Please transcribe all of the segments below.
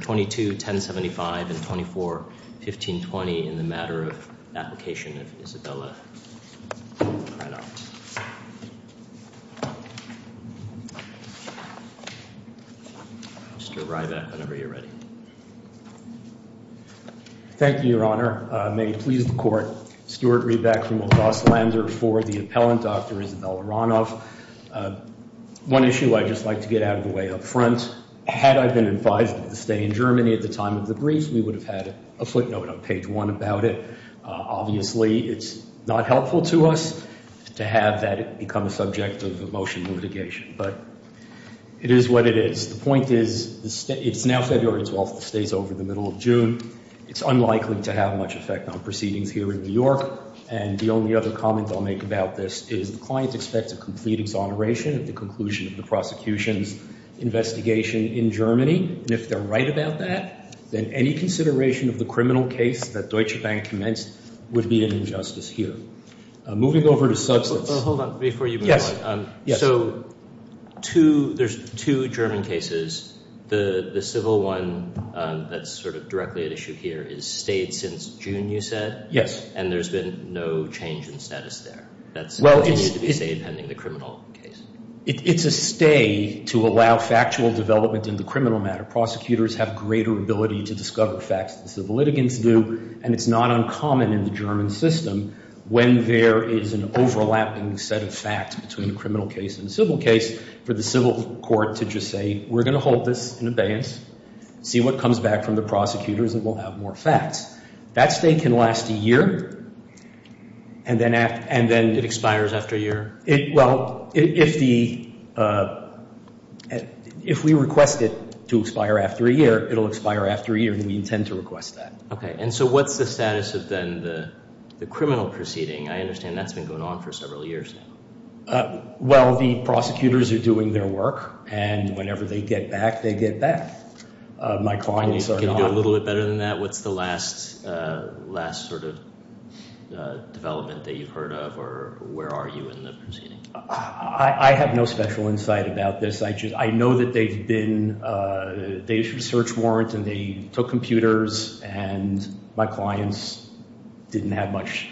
22-1075 and 24-1520 in the Matter of the Application of Isabella Hranoff. Mr. Ryback, whenever you're ready. Thank you, Your Honor. May it please the Court, Stuart Ryback from Los Alamos for the appellant, Dr. Isabella Hranoff. One issue I'd just like to get out of the way up front. Had I been advised of the stay in Germany at the time of the brief, we would have had a footnote on page one about it. Obviously, it's not helpful to us to have that become a subject of a motion litigation, but it is what it is. The point is, it's now February 12th, the stay's over the middle of June. It's unlikely to have much effect on proceedings here in New York, and the only other comment I'll make about this is the client expects a complete exoneration at the conclusion of the prosecution's investigation in Germany, and if they're right about that, then any consideration of the criminal case that Deutsche Bank commenced would be an injustice here. Moving over to substance. Hold on. Before you move on. Yes. Yes. So, there's two German cases. The civil one that's sort of directly at issue here is stayed since June, you said? Yes. And there's been no change in status there? That's what needs to be said pending the criminal case. It's a stay to allow factual development in the criminal matter. Prosecutors have greater ability to discover facts than civil litigants do, and it's not uncommon in the German system, when there is an overlapping set of facts between a criminal case and a civil case, for the civil court to just say, we're going to hold this in abeyance, see what comes back from the prosecutors, and we'll have more facts. That stay can last a year, and then it expires after a year. Well, if we request it to expire after a year, it'll expire after a year, and we intend to request that. Okay. And so, what's the status of, then, the criminal proceeding? I understand that's been going on for several years now. Well, the prosecutors are doing their work, and whenever they get back, they get back. My clients are gone. Can you do a little bit better than that? What's the last sort of development that you've heard of, or where are you in the proceeding? I have no special insight about this. I know that they've been, they issued a search warrant, and they took computers, and my clients didn't have much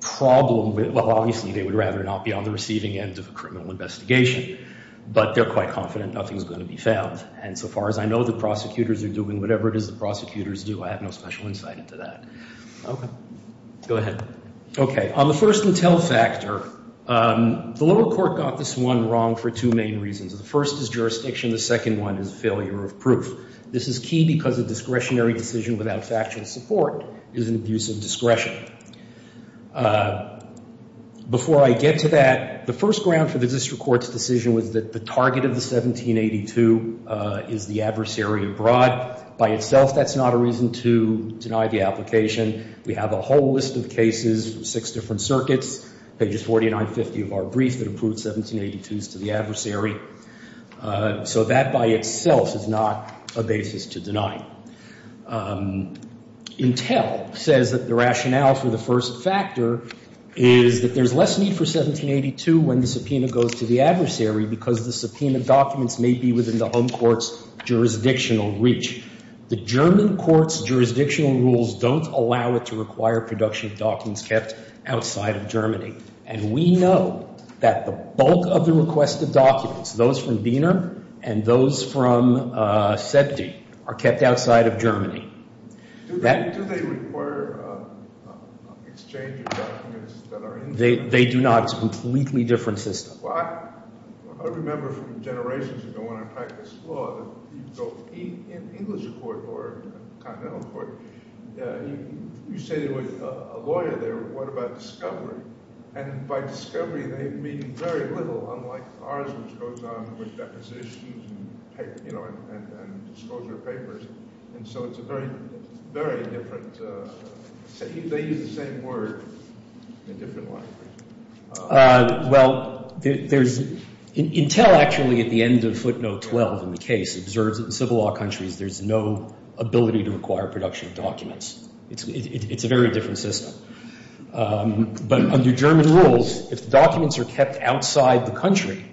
problem with, well, obviously, they would rather not be on the receiving end of a criminal investigation, but they're quite confident nothing's going to be found. And so far as I know, the prosecutors are doing whatever it is the prosecutors do. I have no special insight into that. Go ahead. Okay. On the first intel factor, the lower court got this one wrong for two main reasons. The first is jurisdiction. The second one is failure of proof. This is key because a discretionary decision without factual support is an abuse of discretion. Before I get to that, the first ground for the district court's decision was that the target of the 1782 is the adversary abroad. By itself, that's not a reason to deny the application. We have a whole list of cases, six different circuits, pages 49 and 50 of our brief that approved 1782s to the adversary. So that by itself is not a basis to deny. Intel says that the rationale for the first factor is that there's less need for 1782 when the subpoena goes to the adversary because the subpoena documents may be within the home court's jurisdictional reach. The German court's jurisdictional rules don't allow it to require production of documents kept outside of Germany. And we know that the bulk of the requested documents, those from Boehner and those from Setty, are kept outside of Germany. Do they require exchange of documents that are in Germany? They do not. It's a completely different system. Well, I remember from generations ago when I practiced law that you'd go to an English court or a continental court. You say to a lawyer there, what about discovery? And by discovery, they mean very little, unlike ours, which goes on with depositions and disclosure of papers. And so it's a very, very different, they use the same word in a different way. Well, there's, Intel actually at the end of footnote 12 in the case observes that in civil law countries there's no ability to require production of documents. It's a very different system. But under German rules, if documents are kept outside the country,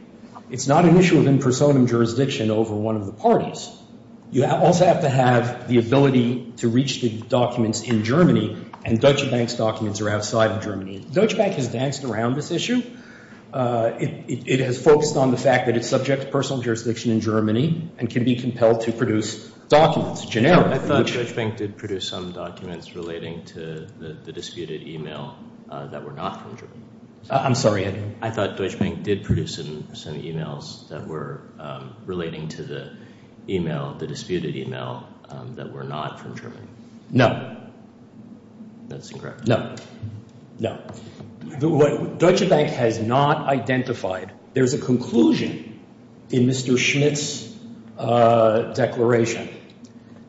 it's not an issue within personam jurisdiction over one of the parties. You also have to have the ability to reach the documents in Germany, and Deutsche Bank's documents are outside of Germany. Deutsche Bank has danced around this issue. It has focused on the fact that it's subject to personal jurisdiction in Germany and can be compelled to produce documents, generally. I thought Deutsche Bank did produce some documents relating to the disputed e-mail that were not from Germany. I'm sorry? I thought Deutsche Bank did produce some e-mails that were relating to the e-mail, the disputed e-mail, that were not from Germany. No. That's incorrect. No. No. Deutsche Bank has not identified, there's a conclusion in Mr. Schmitt's declaration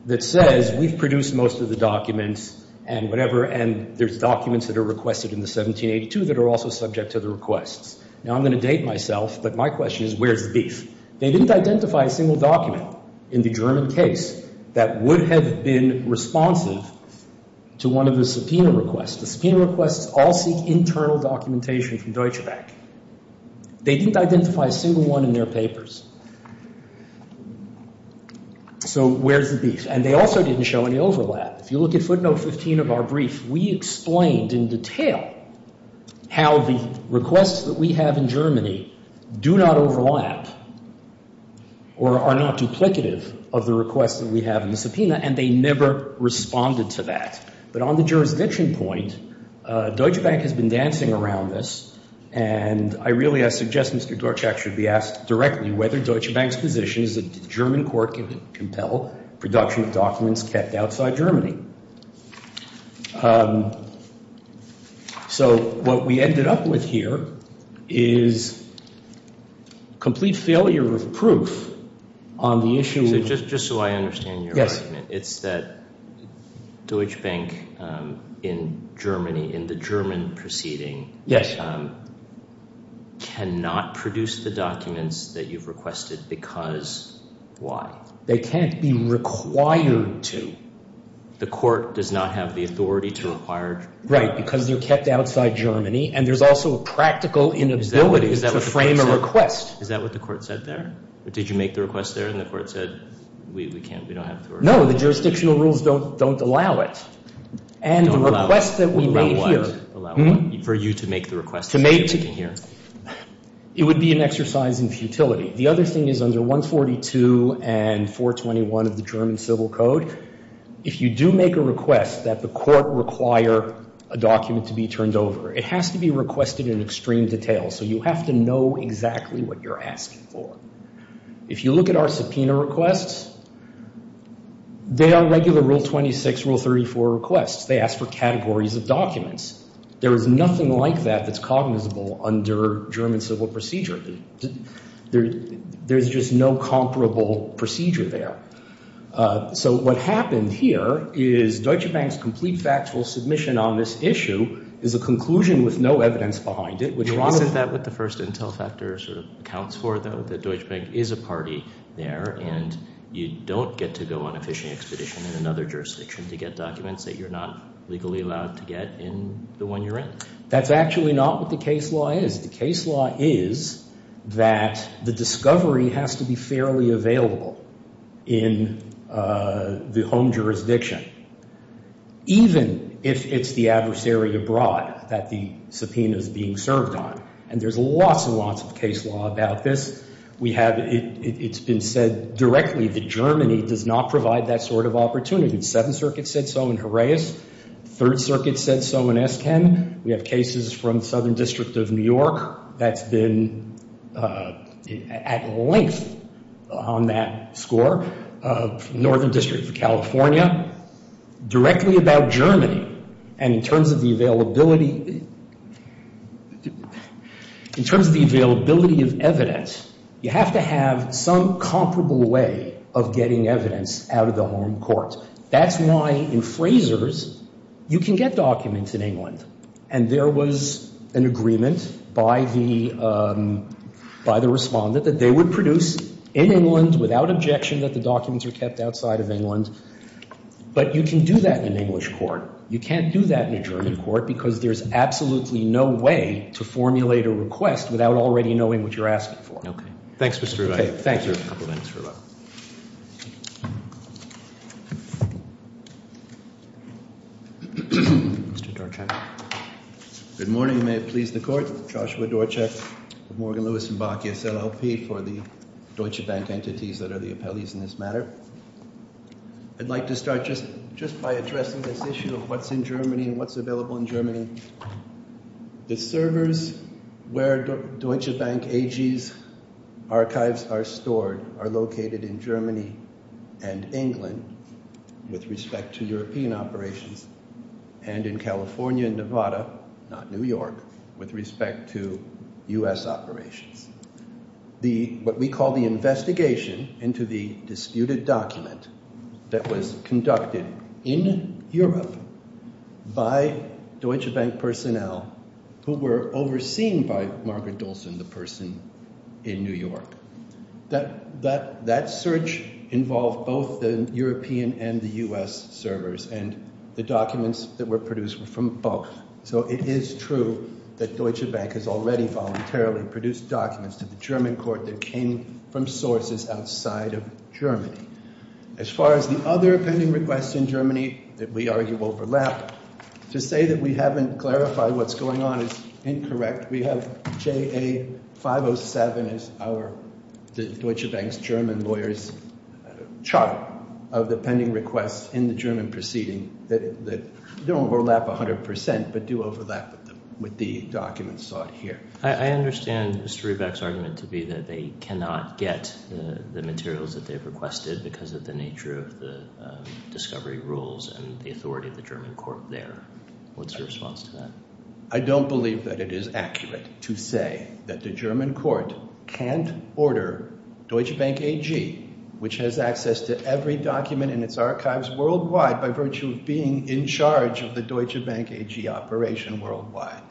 that says we've produced most of the documents and whatever, and there's documents that are also subject to the requests. Now I'm going to date myself, but my question is where's the beef? They didn't identify a single document in the German case that would have been responsive to one of the subpoena requests. The subpoena requests all seek internal documentation from Deutsche Bank. They didn't identify a single one in their papers. So where's the beef? And they also didn't show any overlap. If you look at footnote 15 of our brief, we explained in detail how the requests that we have in Germany do not overlap or are not duplicative of the requests that we have in the subpoena, and they never responded to that. But on the jurisdiction point, Deutsche Bank has been dancing around this, and I really suggest Mr. Dorchak should be asked directly whether Deutsche Bank's position is that the German court can compel production of documents kept outside Germany. So what we ended up with here is complete failure of proof on the issue. So just so I understand your argument, it's that Deutsche Bank in Germany, in the German proceeding, cannot produce the documents that you've requested because why? They can't be required to. The court does not have the authority to require? Right, because they're kept outside Germany, and there's also a practical inability to frame a request. Is that what the court said there? Did you make the request there, and the court said, we can't, we don't have the authority? No, the jurisdictional rules don't allow it. And the request that we made here. For you to make the request that you're making here? It would be an exercise in futility. The other thing is under 142 and 421 of the German Civil Code, if you do make a request that the court require a document to be turned over, it has to be requested in extreme detail, so you have to know exactly what you're asking for. If you look at our subpoena requests, they are regular Rule 26, Rule 34 requests. They ask for categories of documents. There is nothing like that that's cognizable under German civil procedure. There's just no comparable procedure there. So what happened here is Deutsche Bank's complete factual submission on this issue is a conclusion with no evidence behind it. Isn't that what the first intel factor sort of accounts for, though, that Deutsche Bank is a party there and you don't get to go on a fishing expedition in another jurisdiction to get documents that you're not legally allowed to get in the one you're in? That's actually not what the case law is. The case law is that the discovery has to be fairly available in the home jurisdiction, even if it's the adversary abroad that the subpoena is being served on, and there's lots and lots of case law about this. It's been said directly that Germany does not provide that sort of opportunity. The Seventh Circuit said so in Jerez. The Third Circuit said so in Esken. We have cases from the Southern District of New York that's been at length on that score, Northern District of California, directly about Germany, and in terms of the availability of evidence, you have to have some comparable way of getting evidence out of the home court. That's why in Fraser's you can get documents in England, and there was an agreement by the respondent that they would produce in England without objection that the documents are kept outside of England, but you can do that in an English court. You can't do that in a German court because there's absolutely no way to formulate a request without already knowing what you're asking for. Okay. Thanks, Mr. Rivai. Okay. Thank you. I have a couple of things for you. Mr. Dorchek. Good morning. You may please the court. Joshua Dorchek of Morgan Lewis & Bakke, SLLP, for the Deutsche Bank entities that are the appellees in this matter. I'd like to start just by addressing this issue of what's in Germany and what's available in Germany. The servers where Deutsche Bank AG's archives are stored are located in Germany and England with respect to European operations, and in California and Nevada, not New York, with respect to U.S. operations. What we call the investigation into the disputed document that was conducted in Europe by Deutsche Bank personnel who were overseen by Margaret Dolson, the person in New York, that search involved both the European and the U.S. servers, and the documents that were produced were from both. So it is true that Deutsche Bank has already voluntarily produced documents to the German court that came from sources outside of Germany. As far as the other pending requests in Germany that we argue overlap, to say that we haven't clarified what's going on is incorrect. We have JA 507 as the Deutsche Bank's German lawyer's chart of the pending requests in the German proceeding that don't overlap 100 percent but do overlap with the documents sought here. I understand Mr. Rebeck's argument to be that they cannot get the materials that they've requested because of the nature of the discovery rules and the authority of the German court there. What's your response to that? I don't believe that it is accurate to say that the German court can't order Deutsche Bank AG, which has access to every document in its archives worldwide by virtue of being in charge of the Deutsche Bank AG operation worldwide.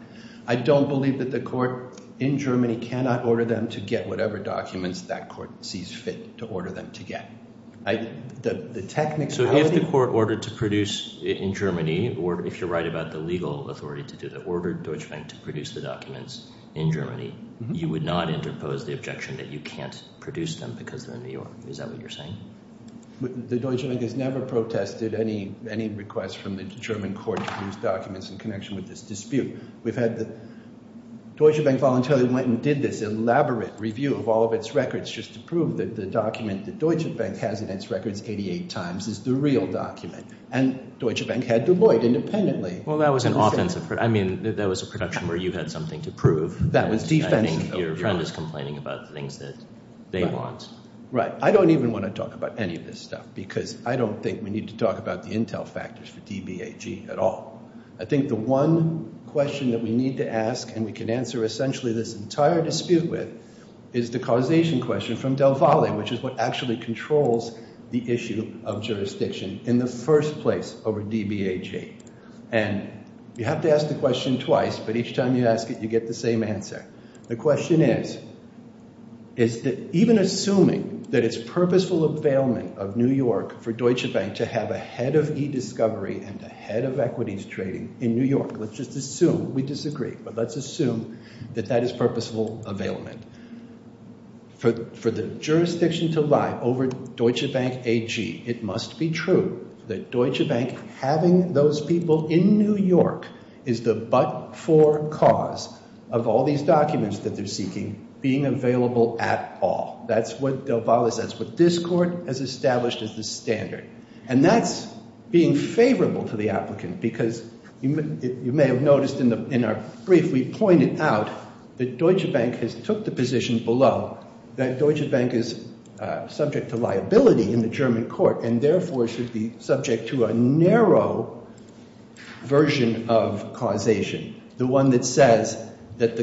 I don't believe that the court in Germany cannot order them to get whatever documents that court sees fit to order them to get. So if the court ordered to produce in Germany, or if you're right about the legal authority to do that, ordered Deutsche Bank to produce the documents in Germany, you would not interpose the objection that you can't produce them because they're in New York. Is that what you're saying? The Deutsche Bank has never protested any request from the German court to produce documents in connection with this dispute. Deutsche Bank voluntarily went and did this elaborate review of all of its records just to prove that the document that Deutsche Bank has in its records 88 times is the real document. And Deutsche Bank had Du Bois independently. Well, that was an offensive. I mean, that was a production where you had something to prove. That was defensive. I think your friend is complaining about the things that they want. Right. I don't even want to talk about any of this stuff because I don't think we need to talk about the intel factors for DBAG at all. I think the one question that we need to ask, and we can answer essentially this entire dispute with, is the causation question from Del Valle, which is what actually controls the issue of jurisdiction in the first place over DBAG. And you have to ask the question twice, but each time you ask it, you get the same answer. The question is, is that even assuming that it's purposeful availment of New York for Deutsche Bank to have a head of e-discovery and a head of equities trading in New York, let's just assume, we disagree, but let's assume that that is purposeful availment. For the jurisdiction to lie over Deutsche Bank AG, it must be true that Deutsche Bank having those people in New York is the but-for cause of all these documents that they're seeking being available at all. That's what Del Valle says. That's what this court has established as the standard. And that's being favorable to the applicant because you may have noticed in our brief, we pointed out that Deutsche Bank has took the position below that Deutsche Bank is subject to liability in the German court and therefore should be subject to a narrow version of causation, the one that says that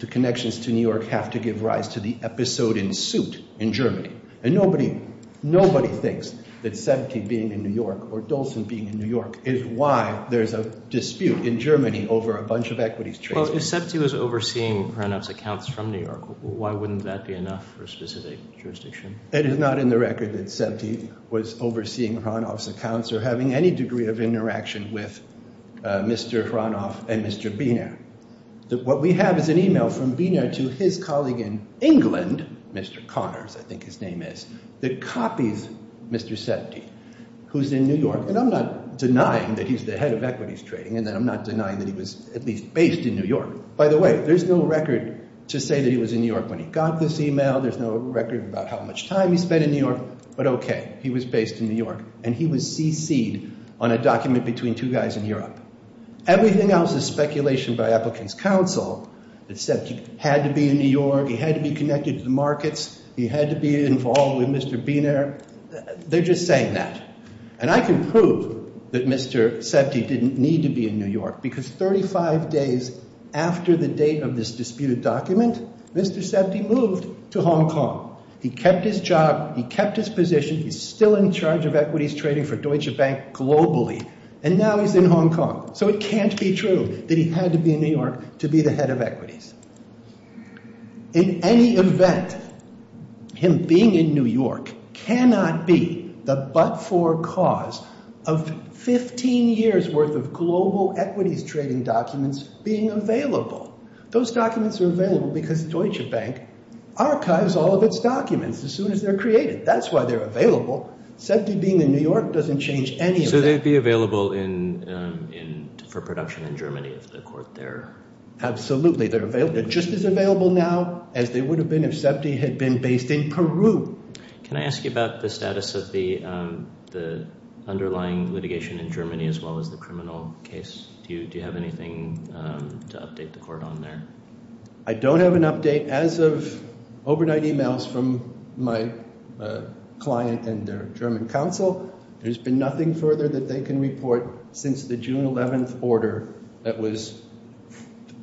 the connections to New York have to give rise to the episode in suit in Germany. And nobody thinks that Septi being in New York or Dolson being in New York is why there's a dispute in Germany over a bunch of equities trading. Well, if Septi was overseeing Hranov's accounts from New York, why wouldn't that be enough for a specific jurisdiction? It is not in the record that Septi was overseeing Hranov's accounts or having any degree of interaction with Mr. Hranov and Mr. Biner. What we have is an email from Biner to his colleague in England, Mr. Connors, I think his name is, that copies Mr. Septi, who's in New York. And I'm not denying that he's the head of equities trading and that I'm not denying that he was at least based in New York. By the way, there's no record to say that he was in New York when he got this email. There's no record about how much time he spent in New York. But OK, he was based in New York and he was cc'd on a document between two guys in Europe. Everything else is speculation by applicants' counsel that Septi had to be in New York, he had to be connected to the markets, he had to be involved with Mr. Biner. They're just saying that. And I can prove that Mr. Septi didn't need to be in New York because 35 days after the date of this disputed document, Mr. Septi moved to Hong Kong. He kept his job, he kept his position, he's still in charge of equities trading for Deutsche Bank globally. And now he's in Hong Kong. So it can't be true that he had to be in New York to be the head of equities. In any event, him being in New York cannot be the but-for cause of 15 years' worth of global equities trading documents being available. Those documents are available because Deutsche Bank archives all of its documents as soon as they're created. That's why they're available. Septi being in New York doesn't change any of that. So they'd be available for production in Germany if the court there? Absolutely. They're just as available now as they would have been if Septi had been based in Peru. Can I ask you about the status of the underlying litigation in Germany as well as the criminal case? Do you have anything to update the court on there? I don't have an update as of overnight e-mails from my client and their German counsel. There's been nothing further that they can report since the June 11th order that was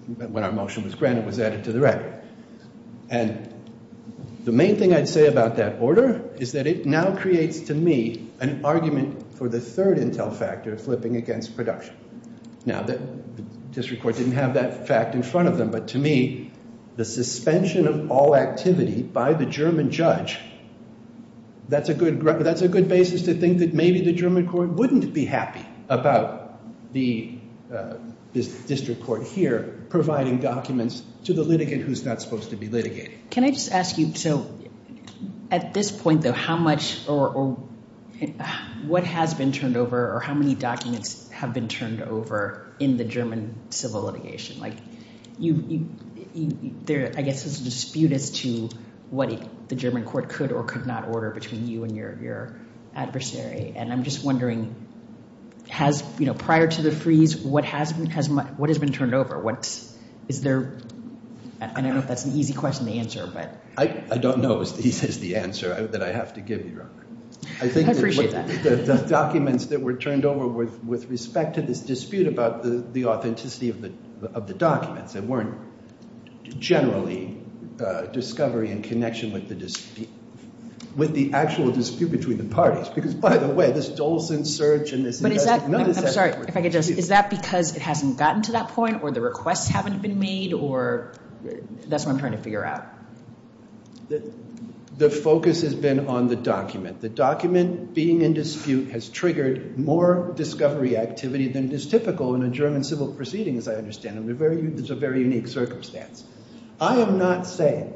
when our motion was granted was added to the record. And the main thing I'd say about that order is that it now creates to me an argument for the third intel factor flipping against production. Now, the district court didn't have that fact in front of them. But to me, the suspension of all activity by the German judge, that's a good basis to think that maybe the German court wouldn't be happy about the district court here providing documents to the litigant who's not supposed to be litigating. Can I just ask you, so at this point, though, how much or what has been turned over or how many documents have been turned over in the German civil litigation? Like, there, I guess, is a dispute as to what the German court could or could not order between you and your adversary. And I'm just wondering, has, you know, prior to the freeze, what has been turned over? What's, is there, I don't know if that's an easy question to answer, but. I don't know is the answer that I have to give you, Robert. I appreciate that. The documents that were turned over were with respect to this dispute about the authenticity of the documents. They weren't generally discovery in connection with the dispute, with the actual dispute between the parties. Because, by the way, this Dolson search and this investigation. But is that, I'm sorry, if I could just. Is that because it hasn't gotten to that point or the requests haven't been made or that's what I'm trying to figure out? The focus has been on the document. The document being in dispute has triggered more discovery activity than is typical in a German civil proceeding, as I understand it. There's a very unique circumstance. I am not saying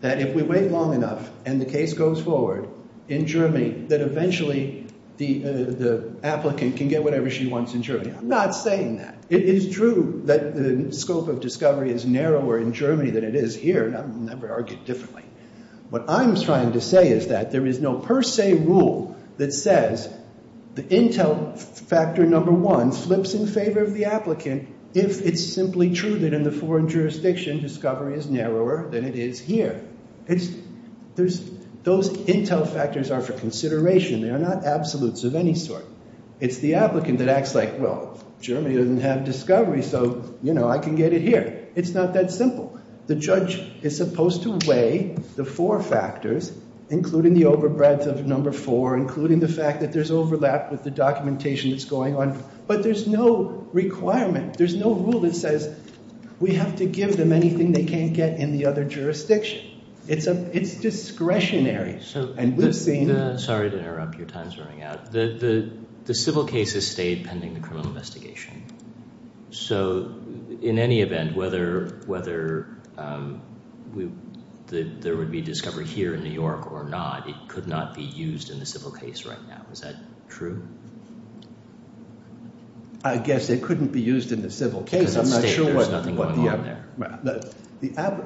that if we wait long enough and the case goes forward in Germany, that eventually the applicant can get whatever she wants in Germany. I'm not saying that. It is true that the scope of discovery is narrower in Germany than it is here. And I've never argued differently. What I'm trying to say is that there is no per se rule that says the intel factor number one flips in favor of the applicant if it's simply true that in the foreign jurisdiction discovery is narrower than it is here. Those intel factors are for consideration. They are not absolutes of any sort. It's the applicant that acts like, well, Germany doesn't have discovery, so, you know, I can get it here. It's not that simple. The judge is supposed to weigh the four factors, including the overbreadth of number four, including the fact that there's overlap with the documentation that's going on. But there's no requirement. There's no rule that says we have to give them anything they can't get in the other jurisdiction. It's discretionary. And we've seen. Sorry to interrupt. Your time is running out. The civil case has stayed pending the criminal investigation. So, in any event, whether there would be discovery here in New York or not, it could not be used in the civil case right now. Is that true? I guess it couldn't be used in the civil case. Because I'm not sure there's nothing going on there.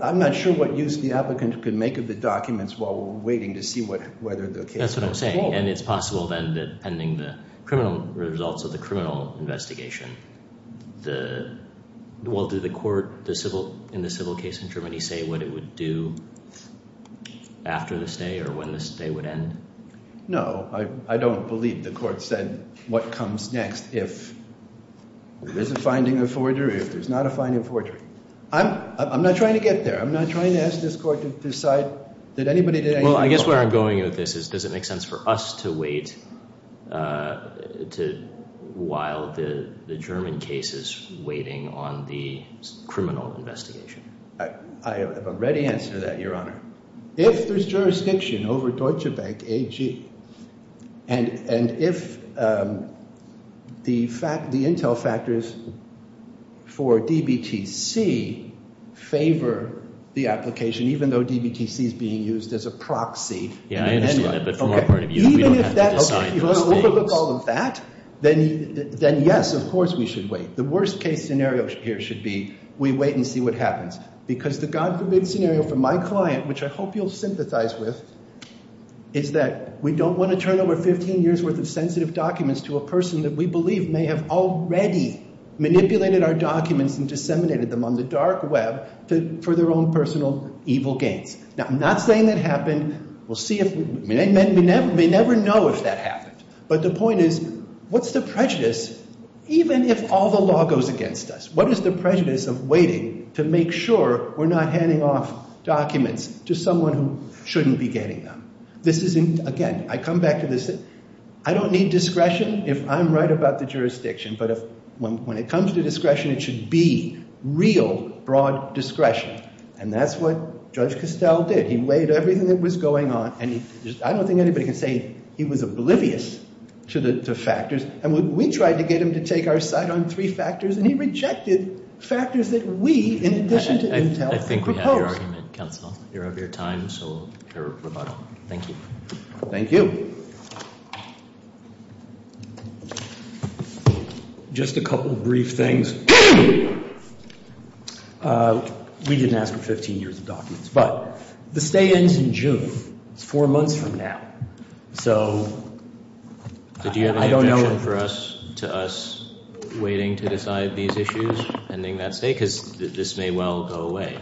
I'm not sure what use the applicant could make of the documents while we're waiting to see whether the case goes forward. That's what I'm saying. And it's possible, then, that pending the criminal results of the criminal investigation, well, do the court in the civil case in Germany say what it would do after the stay or when the stay would end? No. I don't believe the court said what comes next if there's a finding of forgery or if there's not a finding of forgery. I'm not trying to get there. I'm not trying to ask this court to decide that anybody did anything wrong. Well, I guess where I'm going with this is does it make sense for us to wait while the German case is waiting on the criminal investigation? I have already answered that, Your Honor. If there's jurisdiction over Deutsche Bank AG and if the intel factors for DBTC favor the application, even though DBTC is being used as a proxy. Yeah, I understand that. But from our point of view, we don't have to decide those things. If you want to overlook all of that, then yes, of course we should wait. The worst case scenario here should be we wait and see what happens. Because the God forbid scenario for my client, which I hope you'll sympathize with, is that we don't want to turn over 15 years' worth of sensitive documents to a person that we believe may have already manipulated our documents and disseminated them on the dark web for their own personal evil gains. Now, I'm not saying that happened. We'll see if – we may never know if that happened. But the point is what's the prejudice even if all the law goes against us? What is the prejudice of waiting to make sure we're not handing off documents to someone who shouldn't be getting them? This isn't – again, I come back to this. I don't need discretion if I'm right about the jurisdiction. But when it comes to discretion, it should be real broad discretion. And that's what Judge Castell did. He waited everything that was going on. And I don't think anybody can say he was oblivious to the factors. And we tried to get him to take our side on three factors, and he rejected factors that we, in addition to Intel, proposed. I think we have your argument, counsel. You're of your time, so we'll hear a rebuttal. Thank you. Thank you. Just a couple of brief things. We didn't ask for 15 years of documents. But the stay ends in June. It's four months from now. So I don't know. Do you have any objection for us to us waiting to decide these issues, pending that stay? Because this may well go away.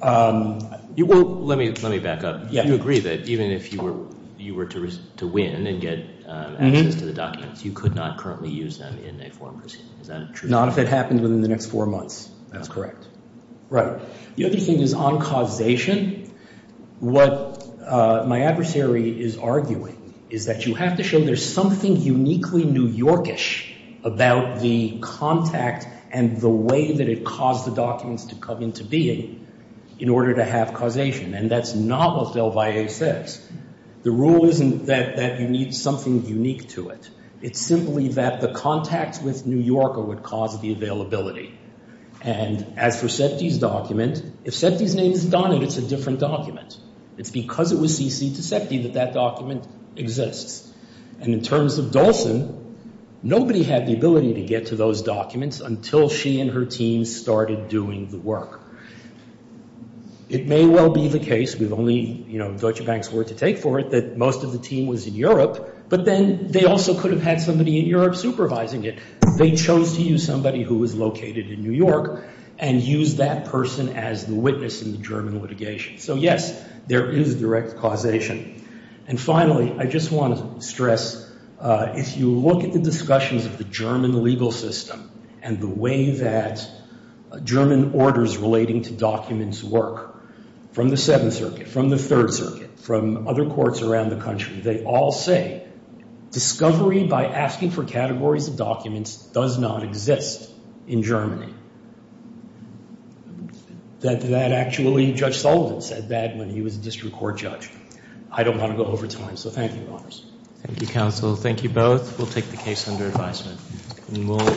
Well, let me back up. You agree that even if you were to win and get access to the documents, you could not currently use them in a foreign proceeding. Is that true? Not if it happened within the next four months. That's correct. Right. The other thing is on causation. What my adversary is arguing is that you have to show there's something uniquely New Yorkish about the contact and the way that it caused the documents to come into being in order to have causation. And that's not what Del Valle says. The rule isn't that you need something unique to it. It's simply that the contact with New Yorker would cause the availability. And as for Septi's document, if Septi's name isn't on it, it's a different document. It's because it was cc'd to Septi that that document exists. And in terms of Dolson, nobody had the ability to get to those documents until she and her team started doing the work. It may well be the case, with only Deutsche Bank's word to take for it, that most of the team was in Europe, but then they also could have had somebody in Europe supervising it. They chose to use somebody who was located in New York and use that person as the witness in the German litigation. So, yes, there is direct causation. And finally, I just want to stress, if you look at the discussions of the German legal system and the way that German orders relating to documents work, from the Seventh Circuit, from the Third Circuit, from other courts around the country, they all say, discovery by asking for categories of documents does not exist in Germany. That actually, Judge Sullivan said that when he was a district court judge. I don't want to go over time, so thank you, Your Honors. Thank you, counsel. Thank you both. We'll take the case under advisement.